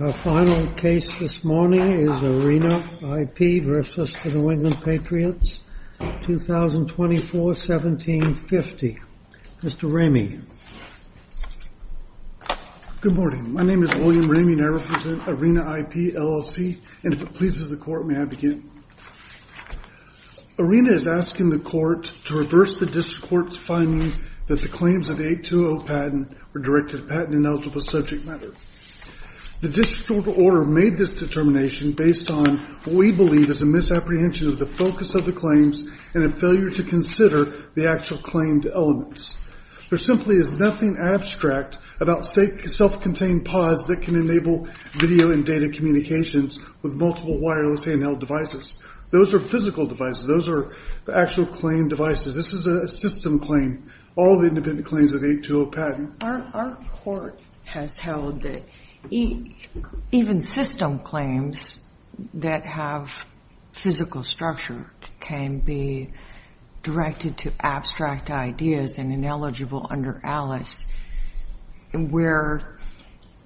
Our final case this morning is ARENA IP v. New England Patriots, 2024-1750. Mr. Ramey. Good morning, my name is William Ramey and I represent ARENA IP, LLC and if it pleases the court may I begin. ARENA is asking the court to reverse the district court's finding that the claims of the 820 patent were directed to patent ineligible subject matter. The district court order made this determination based on what we believe is a misapprehension of the focus of the claims and a failure to consider the actual claimed elements. There simply is nothing abstract about self-contained pods that can enable video and data communications with multiple wireless handheld devices. Those are physical devices, those are actual claim devices, this is a system claim. All the independent claims of the 820 patent. Our court has held that even system claims that have physical structure can be directed to abstract ideas and ineligible under ALICE where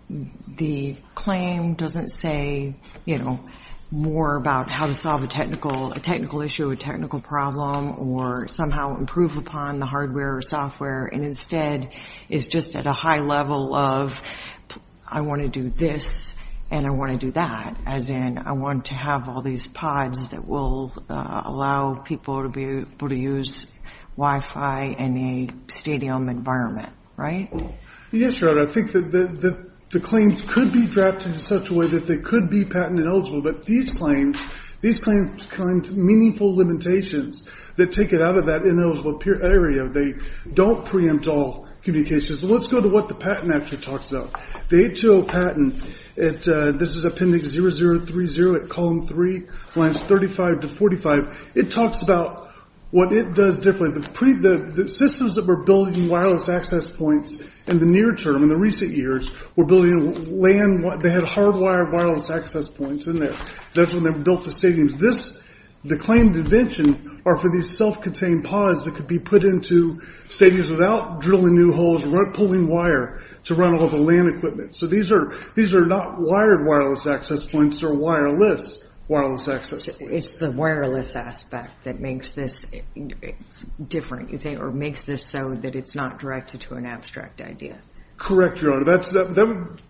the claim doesn't say you know more about how to solve a technical issue, a technical problem, or somehow improve upon the hardware or software and instead is just at a high level of I want to do this and I want to do that, as in I want to have all these pods that will allow people to be able to use Wi-Fi in a stadium environment, right? Yes, Your Honor, I think that the claims could be drafted in such a way that they could be patent ineligible but these claims, these claims claim meaningful limitations that take it out of that ineligible area. They don't preempt all communications. Let's go to what the patent actually talks about. The 820 patent, this is appendix 0030 at column 3, lines 35 to 45. It talks about what it does differently. The systems that were building wireless access points in the near term, in the recent years, were building land, they had hardwired wireless access points in there. That's when they built the stadiums. This, the claimed invention, are for these self-contained pods that could be put into stadiums without drilling new holes or pulling wire to run all the land equipment. So these are these are not wired wireless access points or wireless wireless access. It's the wireless aspect that makes this different, you think, or makes this so that it's not directed to an abstract idea. Correct, Your Honor, that's that would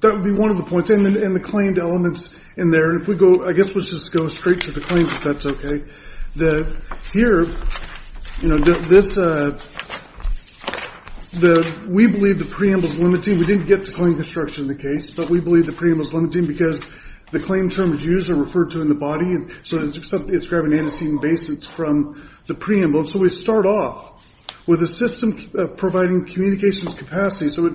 that would be one of the points and the claimed elements in there and if we go I guess let's just go straight to the claims if that's okay. The here, you know, this the we believe the preamble is limiting. We didn't get to claim construction in the case but we believe the preamble is limiting because the claim terms used are referred to in the body and so it's grabbing antecedent basins from the preamble. So we start off with a system providing communications capacity so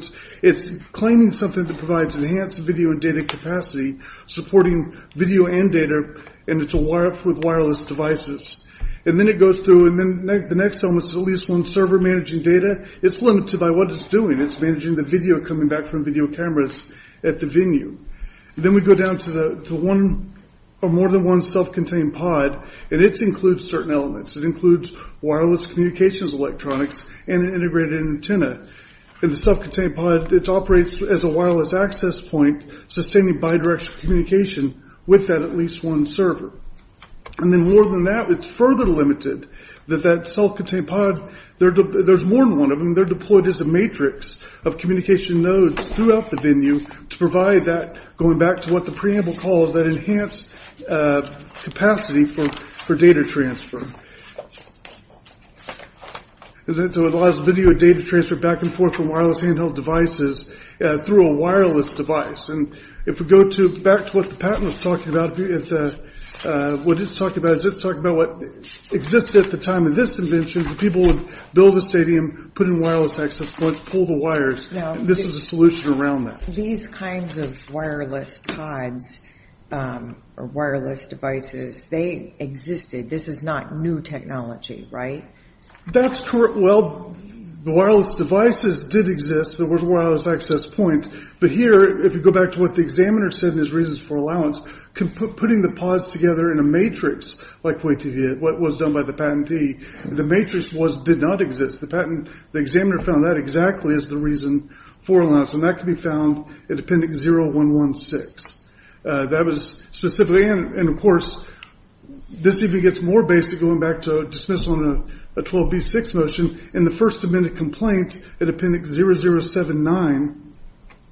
it's claiming something that provides enhanced video and data capacity supporting video and data and it's a wire with wireless devices and then it goes through and then the next element is at least one server managing data. It's limited by what it's doing. It's managing the video coming back from video cameras at the venue. Then we go down to the to one or more than one self-contained pod and it includes certain elements. It includes wireless communications electronics and an antenna and the self-contained pod it operates as a wireless access point sustaining bidirectional communication with that at least one server and then more than that it's further limited that that self-contained pod there's more than one of them they're deployed as a matrix of communication nodes throughout the venue to provide that going back to what the preamble calls that enhance uh capacity for for data transfer and then so it allows video data transfer back and forth from wireless handheld devices through a wireless device and if we go to back to what the patent was talking about what it's talking about is it's talking about what existed at the time of this invention people would build a stadium put in wireless access point pull the wires now this is a solution around these kinds of wireless pods or wireless devices they existed this is not new technology right that's correct well the wireless devices did exist there was a wireless access point but here if you go back to what the examiner said is reasons for allowance can put putting the pods together in a matrix like wait to hear what was done by the patentee the matrix was did not exist the patent the examiner found that exactly is the reason for allowance and that can be found at appendix 0116 that was specifically and of course this even gets more basic going back to dismissal in a 12b6 motion in the first amendment complaint at appendix 0079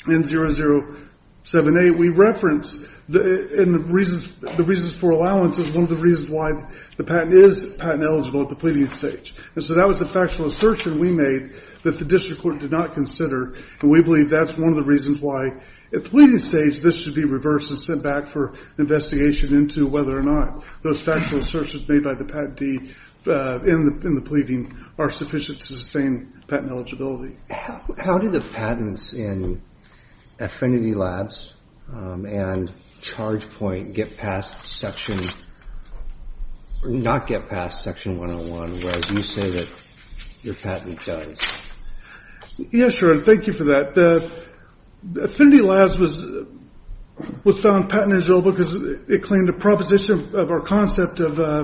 and 0078 we reference the in the reasons the reasons for allowance is one of the reasons why the patent is patent eligible at the pleading stage and so that was a factual assertion we made that the district court did not consider and we believe that's one of the reasons why at the pleading stage this should be reversed and sent back for investigation into whether or not those factual assertions made by the patentee in the in the pleading are sufficient to sustain patent eligibility how do the patents in affinity labs and charge point get past section or not get past section 101 whereas you say that your patent does yes sure thank you for that the affinity labs was was found patentable because it claimed a proposition of our concept of uh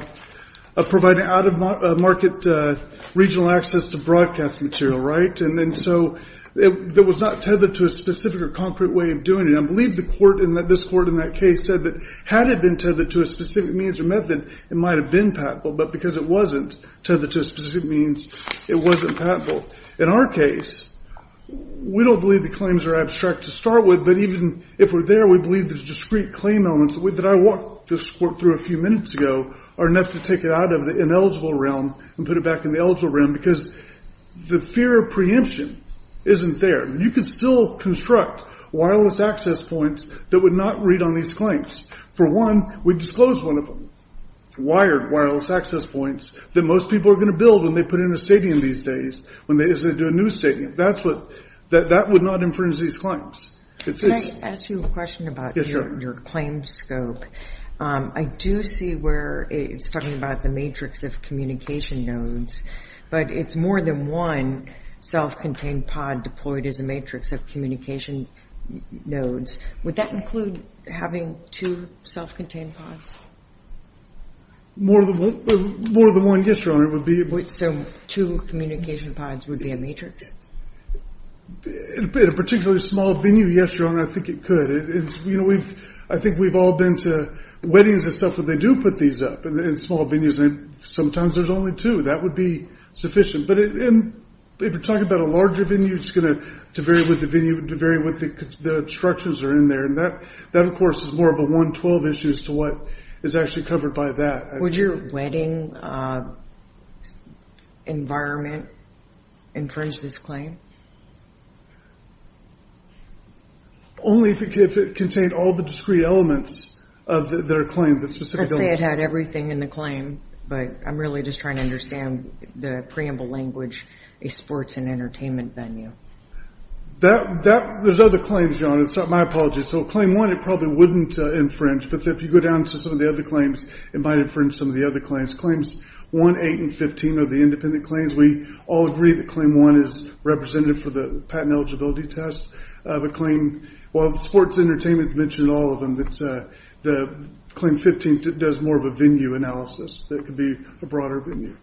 of providing out of market uh regional access to broadcast material right and then so it was not tethered to a specific or concrete way of doing it i believe the court in that this court in that case said that had it been tethered to a specific means or method it might have been patentable but because it wasn't tethered to a specific means it wasn't patentable in our case we don't believe the claims are abstract to start with but even if we're there we believe there's discrete claim elements that i walked this work through a few minutes ago are enough to take it out of the ineligible realm and put it back in the eligible realm because the fear of preemption isn't there you can still construct wireless access points that would not read on these claims for one we disclose one of them wired wireless access points that most people are going to build when they put in a stadium these days when they do a new stadium that's what that that would not infringe these claims can i ask you a question about your claim scope um i do see where it's talking about the matrix of communication nodes but it's more than one self-contained pod deployed as a matrix of communication nodes would that include having two self-contained pods more than one more than one yes your honor it would be so two communication pods would be a matrix in a particularly small venue yes your honor i think it could it is you know we've i think we've all been to weddings and stuff where they do put these up in small venues and sometimes there's only two that would be sufficient but in if you're talking about a larger venue it's going to vary with the venue to vary what the the structures are in there and that that of course is more of a 112 issue as to what is actually covered by that would your wedding uh environment infringe this claim only if it contained all the discrete elements of their claims let's say it had everything in the claim but i'm really just trying to understand the preamble language a sports and entertainment venue that that there's other claims your honor it's not my apology so claim one it probably wouldn't uh infringe but if you go down to some of the other claims it might infringe some of the other claims claims 1 8 and 15 of the independent claims we all agree that claim one is represented for the patent eligibility test of a claim while the sports entertainment's mentioned all of them that's uh the claim 15 does more of a venue analysis that could be a broader venue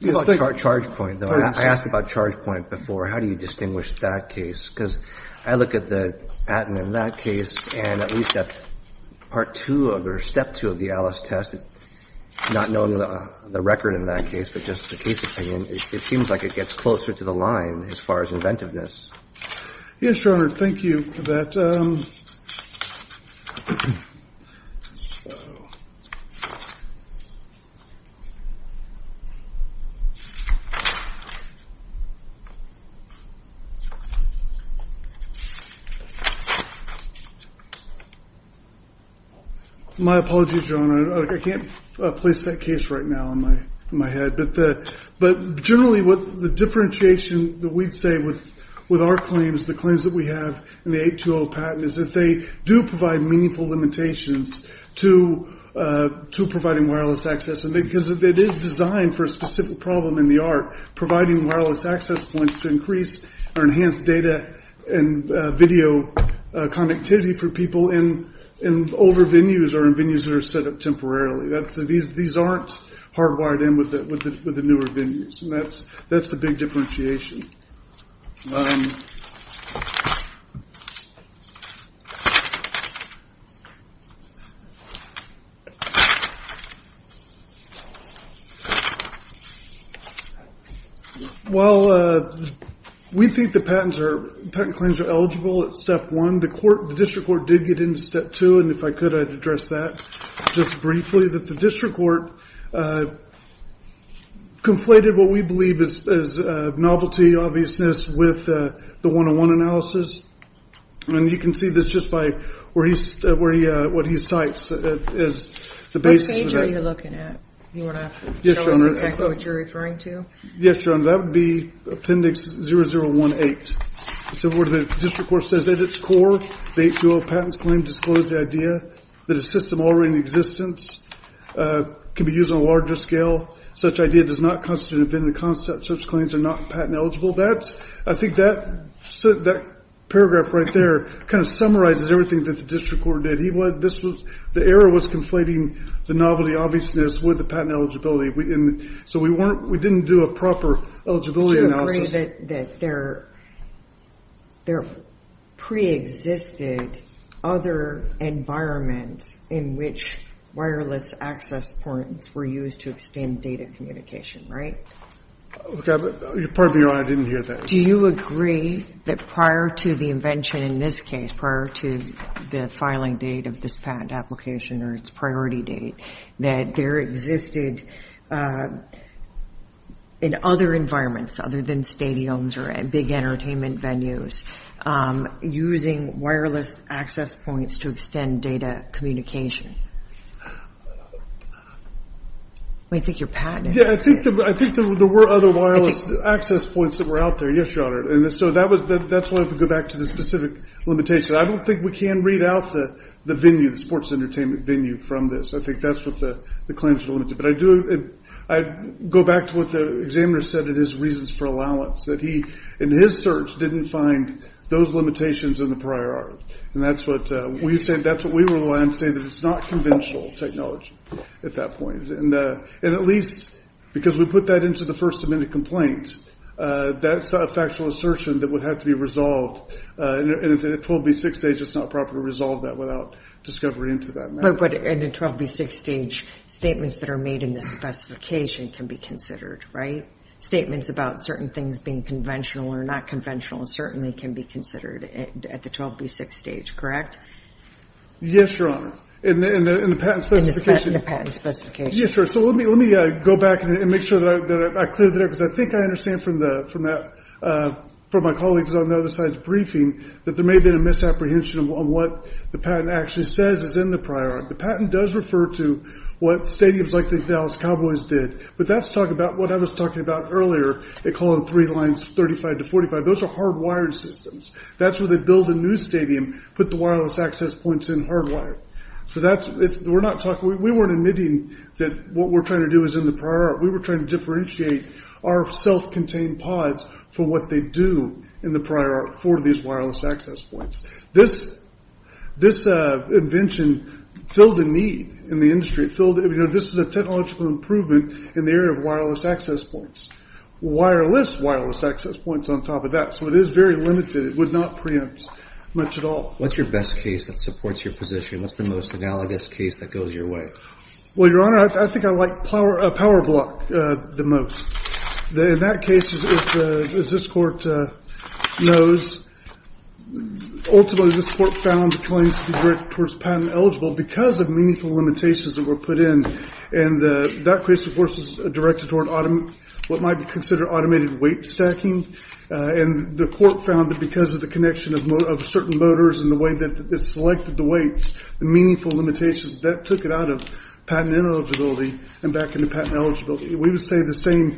yes charge point though i asked about charge point before how do you distinguish that case because i look at the patent in that case and at least that part two of or step two of the alice test not knowing the record in that case but just the case opinion it seems like it gets closer to the line as far as inventiveness yes your honor thank you for that um so my apology john i can't place that case right now in my in my head but the but generally what the differentiation that we'd say with with our claims the claims that we have in the 820 patent is that they do provide meaningful limitations to uh to providing wireless access and because it is designed for a specific problem in the art providing wireless access points to increase or enhance data and video connectivity for people in in older venues or in venues that are set up temporarily that's these these aren't hardwired in with the with the newer venues and that's that's the big differentiation well uh we think the patents are patent claims are eligible at step one the court the district court did get into step two and if i could i'd address that just briefly that the district court uh conflated what we believe is as a novelty obviousness with uh the one-on-one analysis and you can see this just by where he's uh where he uh what he cites is the basis are you looking at you want to show us exactly what you're referring to yes your honor that would be appendix 0018 so where the district court says at its core the 820 patents claim disclosed the that a system already in existence uh can be used on a larger scale such idea does not constitute an event in the concept such claims are not patent eligible that's i think that so that paragraph right there kind of summarizes everything that the district court did he would this was the error was conflating the novelty obviousness with the patent eligibility we in so we weren't we didn't do a proper eligibility analysis that there there pre-existed other environments in which wireless access points were used to extend data communication right okay pardon me your honor i didn't hear that do you agree that prior to the invention in this case prior to the filing date of this patent application or its priority date that there existed uh in other environments other than stadiums or at big entertainment venues um using wireless access points to extend data communication i think you're patented yeah i think i think there were other wireless access points that were out there yes your honor and so that was that's why if we go back to the specific limitation i don't think we can read out the the venue the sports entertainment venue from this i think that's what the the claims are limited but i do i go back to what the examiner said it is reasons for allowance that he in his search didn't find those limitations in the prior art and that's what uh we said that's what we were allowed to say that it's not conventional technology at that point and uh and at least because we put that into the first amendment complaint uh that's a factual assertion that would have to be resolved uh and if it told me six days it's not proper to resolve that without discovery into that matter but in a 12b6 stage statements that are made in this specification can be considered right statements about certain things being conventional or not conventional certainly can be considered at the 12b6 stage correct yes your honor in the in the patent specification the patent specification yes so let me let me uh go back and make sure that i cleared that because i think i understand from the from that uh from my colleagues on the other side's briefing that there may be a misapprehension on what the patent actually says is in the prior the patent does refer to what stadiums like the dallas cowboys did but that's talking about what i was talking about earlier they call them three lines 35 to 45 those are hardwired systems that's where they build a new stadium put the wireless access points in hardwired so that's it's we're not talking we weren't admitting that what we're trying to do is in the prior art we were trying to differentiate our self-contained pods for what they do in the prior art for these wireless access points this this uh invention filled a need in the industry filled you know this is a technological improvement in the area of wireless access points wireless wireless access points on top of that so it is very limited it would not preempt much at all what's your best case that supports your position what's the most analogous case that goes your way well your honor i think i like power a power block uh the most in that case as this court uh knows ultimately this court found the claims to be direct towards patent eligible because of meaningful limitations that were put in and that case of course is directed toward what might be considered automated weight stacking and the court found that because of the connection of certain motors and the way that it selected the weights the meaningful limitations that took it out of patent eligibility and back into patent eligibility we would say the same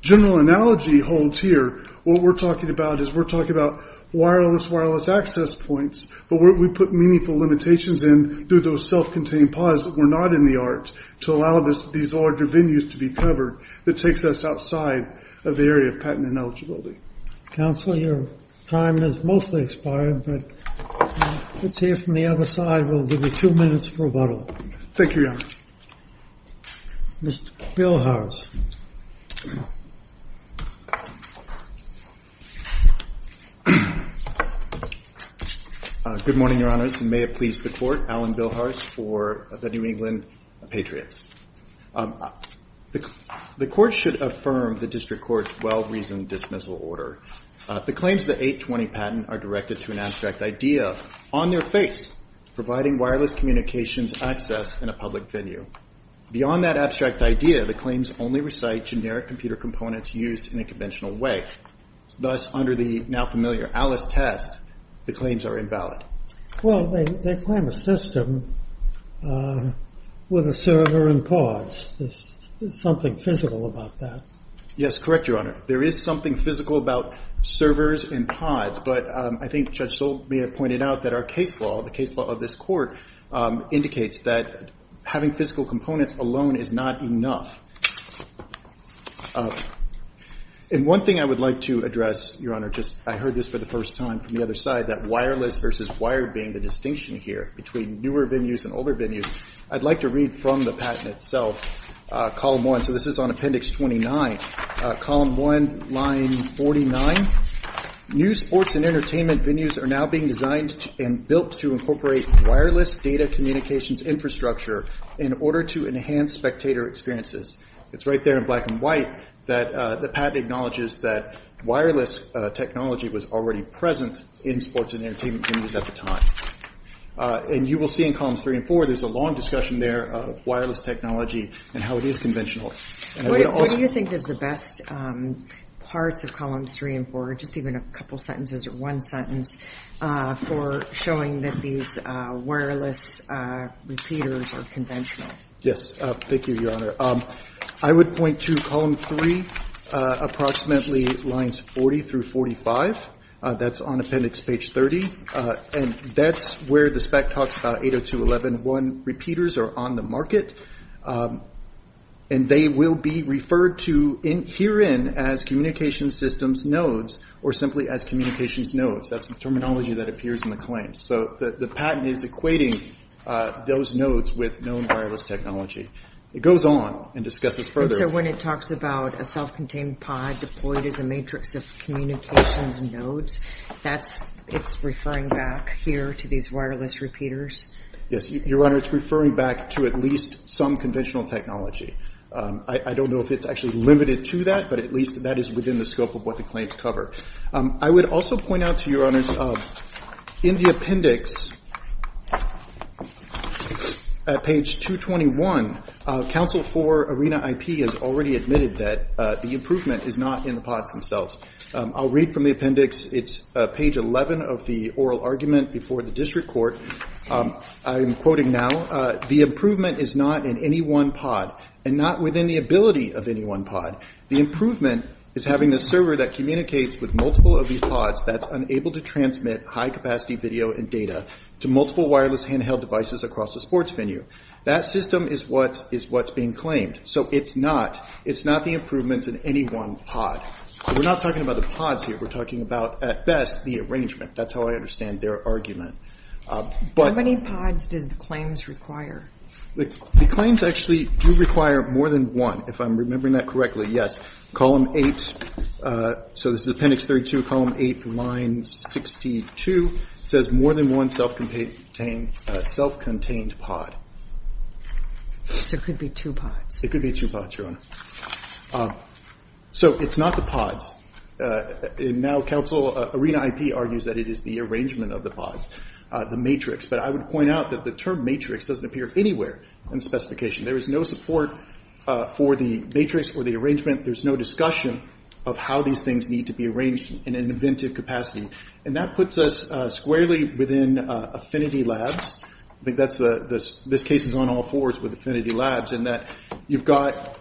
general analogy holds here what we're talking about is we're talking about wireless wireless access points but we put meaningful limitations in through those self-contained pods that were not in the art to allow this these larger venues to be covered that takes us outside of the area patent ineligibility counsel your time has mostly expired but let's hear from the other side we'll give you two minutes for a bottle thank you your honor mr bill harris good morning your honors and may it please the court alan bill harris for the new england patriots the court should affirm the district court's well-reasoned dismissal order the claims the 820 patent are directed to an abstract idea on their face providing wireless communications access in a public venue beyond that abstract idea the claims only recite generic computer components used in a conventional way thus under the now familiar alice test the claims are invalid well they claim a system uh with a server and pods there's something physical about that yes correct your honor there is something physical about servers and pods but i think judge soul may have pointed out that our case law the case law of this court indicates that having physical components alone is not enough and one thing i would like to address your honor just i heard this for the side that wireless versus wired being the distinction here between newer venues and older venues i'd like to read from the patent itself column one so this is on appendix 29 column one line 49 new sports and entertainment venues are now being designed and built to incorporate wireless data communications infrastructure in order to enhance spectator experiences it's right there in black and white that the patent acknowledges that wireless technology was already present in sports and entertainment venues at the time and you will see in columns three and four there's a long discussion there of wireless technology and how it is conventional what do you think is the best um parts of columns three and four just even a couple sentences or one sentence uh for showing that these uh wireless uh repeaters are conventional yes uh thank you uh approximately lines 40 through 45 uh that's on appendix page 30 uh and that's where the spec talks about 80211 repeaters are on the market um and they will be referred to in herein as communication systems nodes or simply as communications nodes that's the terminology that appears in the claims so the the patent is equating uh those nodes with known wireless technology it goes on and discusses further so when it talks about a self-contained pod deployed as a matrix of communications nodes that's it's referring back here to these wireless repeaters yes your honor it's referring back to at least some conventional technology um i don't know if it's actually limited to that but at least that is within the scope of what the claims cover um i would also point out to your honors of in the appendix at page 221 council for arena ip has already admitted that uh the improvement is not in the pods themselves i'll read from the appendix it's page 11 of the oral argument before the district court um i'm quoting now uh the improvement is not in any one pod and not within the ability of the improvement is having a server that communicates with multiple of these pods that's unable to transmit high capacity video and data to multiple wireless handheld devices across the sports venue that system is what is what's being claimed so it's not it's not the improvements in any one pod so we're not talking about the pods here we're talking about at best the arrangement that's how i understand their argument how many pods did the claims require the claims actually do require more than one if i'm remembering that correctly yes column eight uh so this is appendix 32 column 8 line 62 says more than one self-contained self-contained pod there could be two pods it could be two pods your honor so it's not the pods uh and now council arena ip argues that it is the arrangement of the pods uh the matrix but i would point out that the term doesn't appear anywhere in the specification there is no support uh for the matrix or the arrangement there's no discussion of how these things need to be arranged in an inventive capacity and that puts us uh squarely within uh affinity labs i think that's the this this case is on all fours with affinity labs and that you've got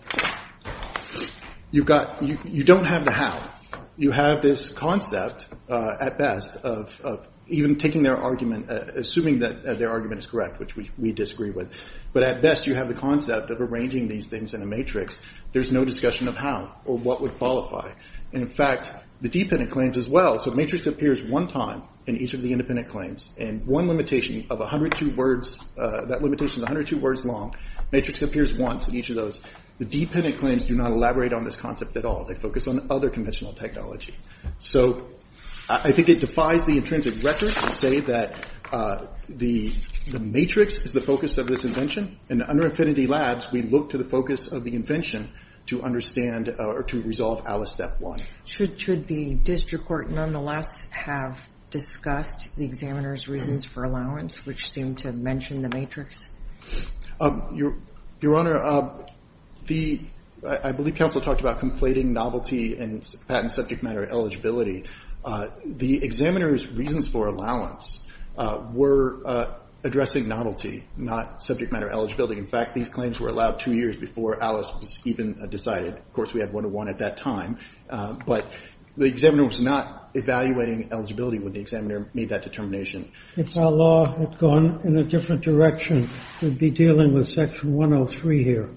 you've got you don't have the how you have this concept uh at best of of even taking their argument assuming that their argument is which we we disagree with but at best you have the concept of arranging these things in a matrix there's no discussion of how or what would qualify and in fact the dependent claims as well so matrix appears one time in each of the independent claims and one limitation of 102 words uh that limitation 102 words long matrix appears once in each of those the dependent claims do not elaborate on this concept at all they focus on other conventional technology so i think it defies the intrinsic record to say that uh the the matrix is the focus of this invention and under affinity labs we look to the focus of the invention to understand or to resolve alice step one should should be district court nonetheless have discussed the examiner's reasons for allowance which seem to mention the matrix um your your honor uh the i believe council talked about conflating novelty and patent subject matter eligibility uh the examiner's reasons for allowance uh were uh addressing novelty not subject matter eligibility in fact these claims were allowed two years before alice was even decided of course we had 101 at that time but the examiner was not evaluating eligibility when the examiner made that determination if our law had gone in a different direction we'd be dealing with section 103 here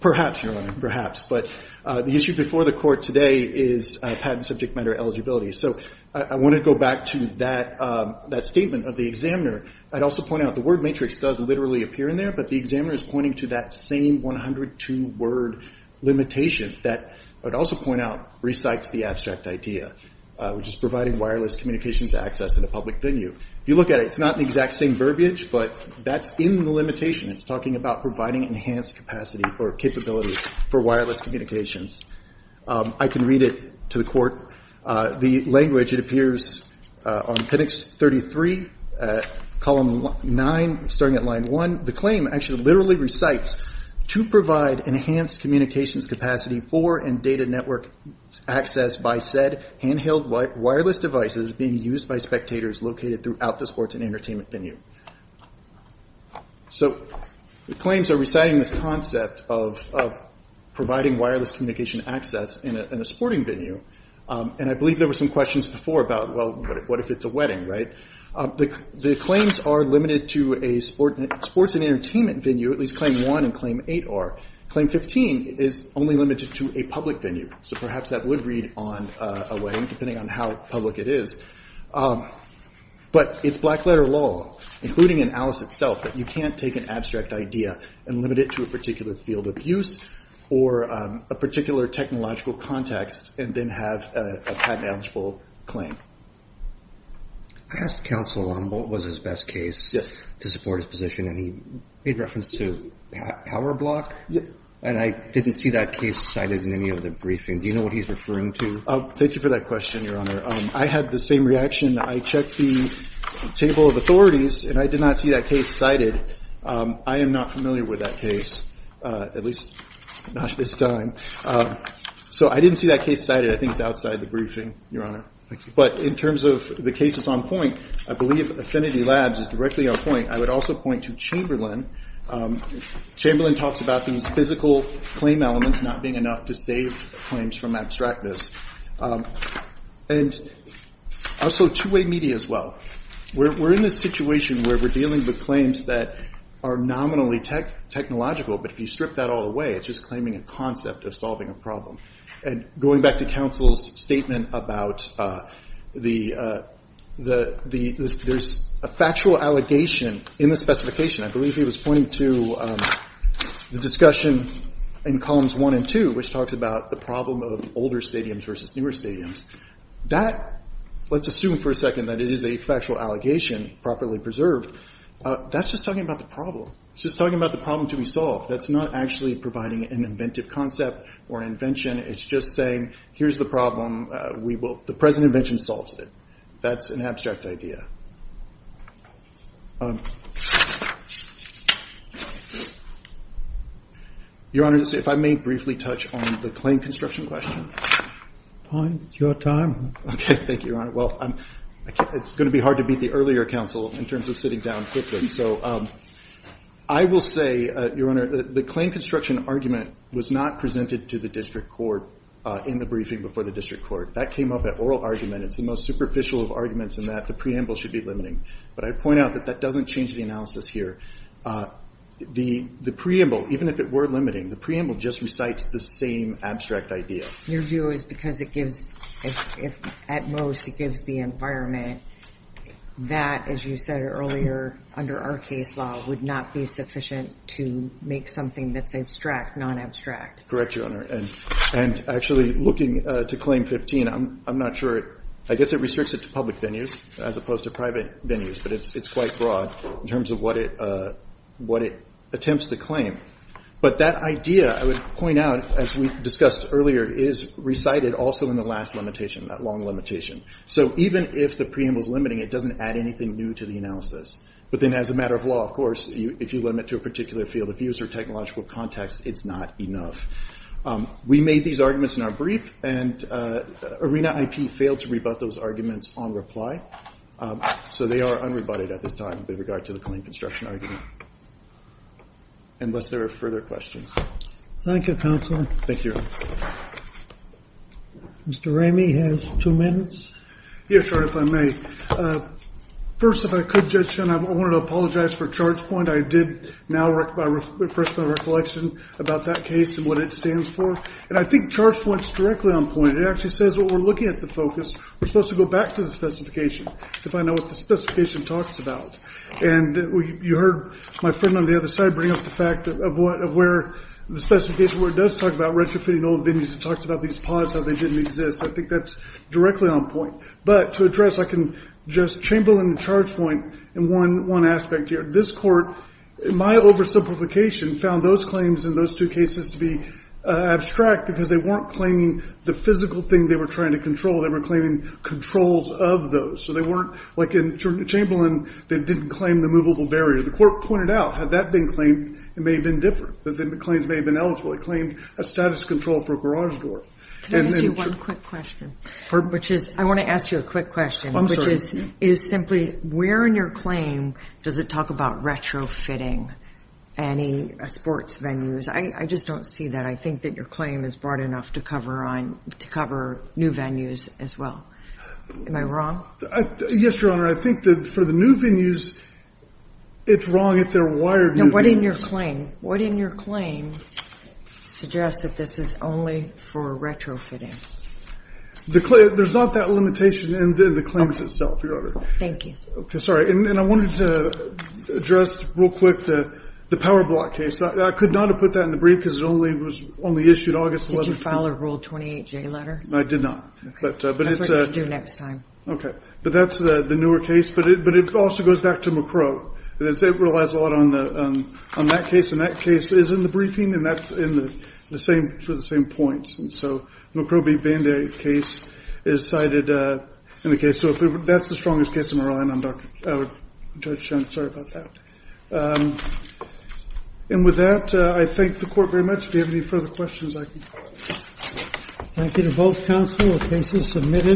perhaps your honor perhaps but uh the issue before the court today is patent subject matter eligibility so i want to go back to that um that statement of the examiner i'd also point out the word matrix does literally appear in there but the examiner is pointing to that same 102 word limitation that but also point out recites the abstract idea uh which is providing wireless communications access in a public venue if you look at it it's not the exact same verbiage but that's in the limitation it's talking about providing enhanced capacity or capability for wireless communications um i can read it to the court uh the language it appears uh on 10x 33 at column nine starting at line one the claim actually literally recites to provide enhanced communications capacity for and data network access by said handheld wireless devices being used by spectators located throughout the sports and entertainment venue so the claims are reciting this concept of of providing wireless communication access in a sporting venue and i believe there were some questions before about well what if it's a wedding right the the claims are limited to a sport sports and entertainment venue at least claim one and claim eight are claim 15 is only limited to a public venue so perhaps that would read on a wedding depending on how public it is um but it's black letter law including in alice itself that you can't take an abstract idea and limit it to a particular field of use or a particular technological context and then have a patent eligible claim i asked counsel on what was his best case yes to support his position and he made reference to power block and i didn't see that case cited in any other briefing do you know what he's referring to oh thank you for that question your honor um i had the same reaction i checked the table of authorities and i did not see that case cited um i am not familiar with that case uh at least not this time so i didn't see that case cited i think it's outside the briefing your honor but in terms of the cases on point i believe affinity labs is directly on point i would also point to chamberlain um chamberlain talks about these physical claim elements not being enough to save claims from abstractness and also two-way media as well we're in this situation where we're dealing with claims that are nominally tech technological but if you strip that all away it's just claiming a concept of solving a problem and going back to counsel's statement about uh the uh the the there's a factual allegation in the specification i believe he was pointing to um the discussion in columns one and two which talks about the problem of older stadiums versus newer stadiums that let's assume for a second that it is a factual allegation properly preserved uh that's just talking about the problem it's just talking about the problem to be solved that's not actually providing an inventive concept or an invention it's just saying here's the problem uh we will the present invention solves it that's an abstract idea um your honor if i may briefly touch on the claim construction question fine it's your time okay thank you your honor well i'm it's going to be hard to beat the earlier counsel in terms of sitting down quickly so um i will say uh your honor the claim construction argument was not presented to the district court uh in the briefing before the district court that came up at oral argument it's the most superficial of arguments and that the preamble should be limiting but i point out that that doesn't change the analysis here uh the the preamble even if it were limiting the preamble just recites the same abstract idea your view is because it gives if if at most it gives the environment that as you said earlier under our case law would not be sufficient to make something that's abstract non-abstract correct your honor and and actually looking uh to claim 15 i'm i'm not sure i guess it restricts it to public venues as opposed to private venues but it's it's quite broad in terms of what it uh what it attempts to claim but that idea i would point out as we discussed earlier is recited also in the last limitation that long limitation so even if the preamble is limiting it doesn't add anything new to the analysis but then as a matter of law of course you if you limit to a particular field of user technological context it's not enough we made these arguments in our brief and arena ip failed to rebut those arguments on reply so they are unrebutted at this time with regard to the clean construction argument unless there are further questions thank you counsel thank you mr ramey has two minutes yes sir if i may uh first if i could judge and i want to apologize for charge point i did now work by refresh my recollection about that case and what it stands for and i think charge points directly on point it actually says what we're looking at the focus we're supposed to go back to the specification to find out what the specification talks about and you heard my friend on the other side bring up the fact of what of where the specification where it does talk about retrofitting old venues it talks about these pods how they didn't exist i think that's directly on point but to address i can just chamberlain the charge point and one aspect here this court my oversimplification found those claims in those two cases to be abstract because they weren't claiming the physical thing they were trying to control they were claiming controls of those so they weren't like in chamberlain that didn't claim the movable barrier the court pointed out had that been claimed it may have been different that the claims may have been eligible it claimed a status control for garage door can i ask you one quick question which is i want to ask you a quick question which is is simply where in your claim does it talk about retrofitting any sports venues i i just don't see that i think that your claim is broad enough to cover on to cover new venues as well am i wrong yes your honor i think that for the new venues it's wrong if they're wired what in your claim what in your claim suggests that this is only for retrofitting the there's not that limitation in the claims itself your honor thank you okay sorry and i wanted to address real quick the the power block case i could not have put that in the brief because it only was only issued august 11th follow rule 28 j letter i did not but uh but it's uh do next time okay but that's the the newer case but it but it also goes back to mccrow and it's it relies a lot on the um on that case in that case is in the briefing and that's in the the same for the same point and so mccrobey band-aid case is cited uh in the case so if that's the strongest case in maryland i'm dr judge i'm sorry about that um and with that i thank the court very much if you have any further questions i can thank you to both counsel the case is submitted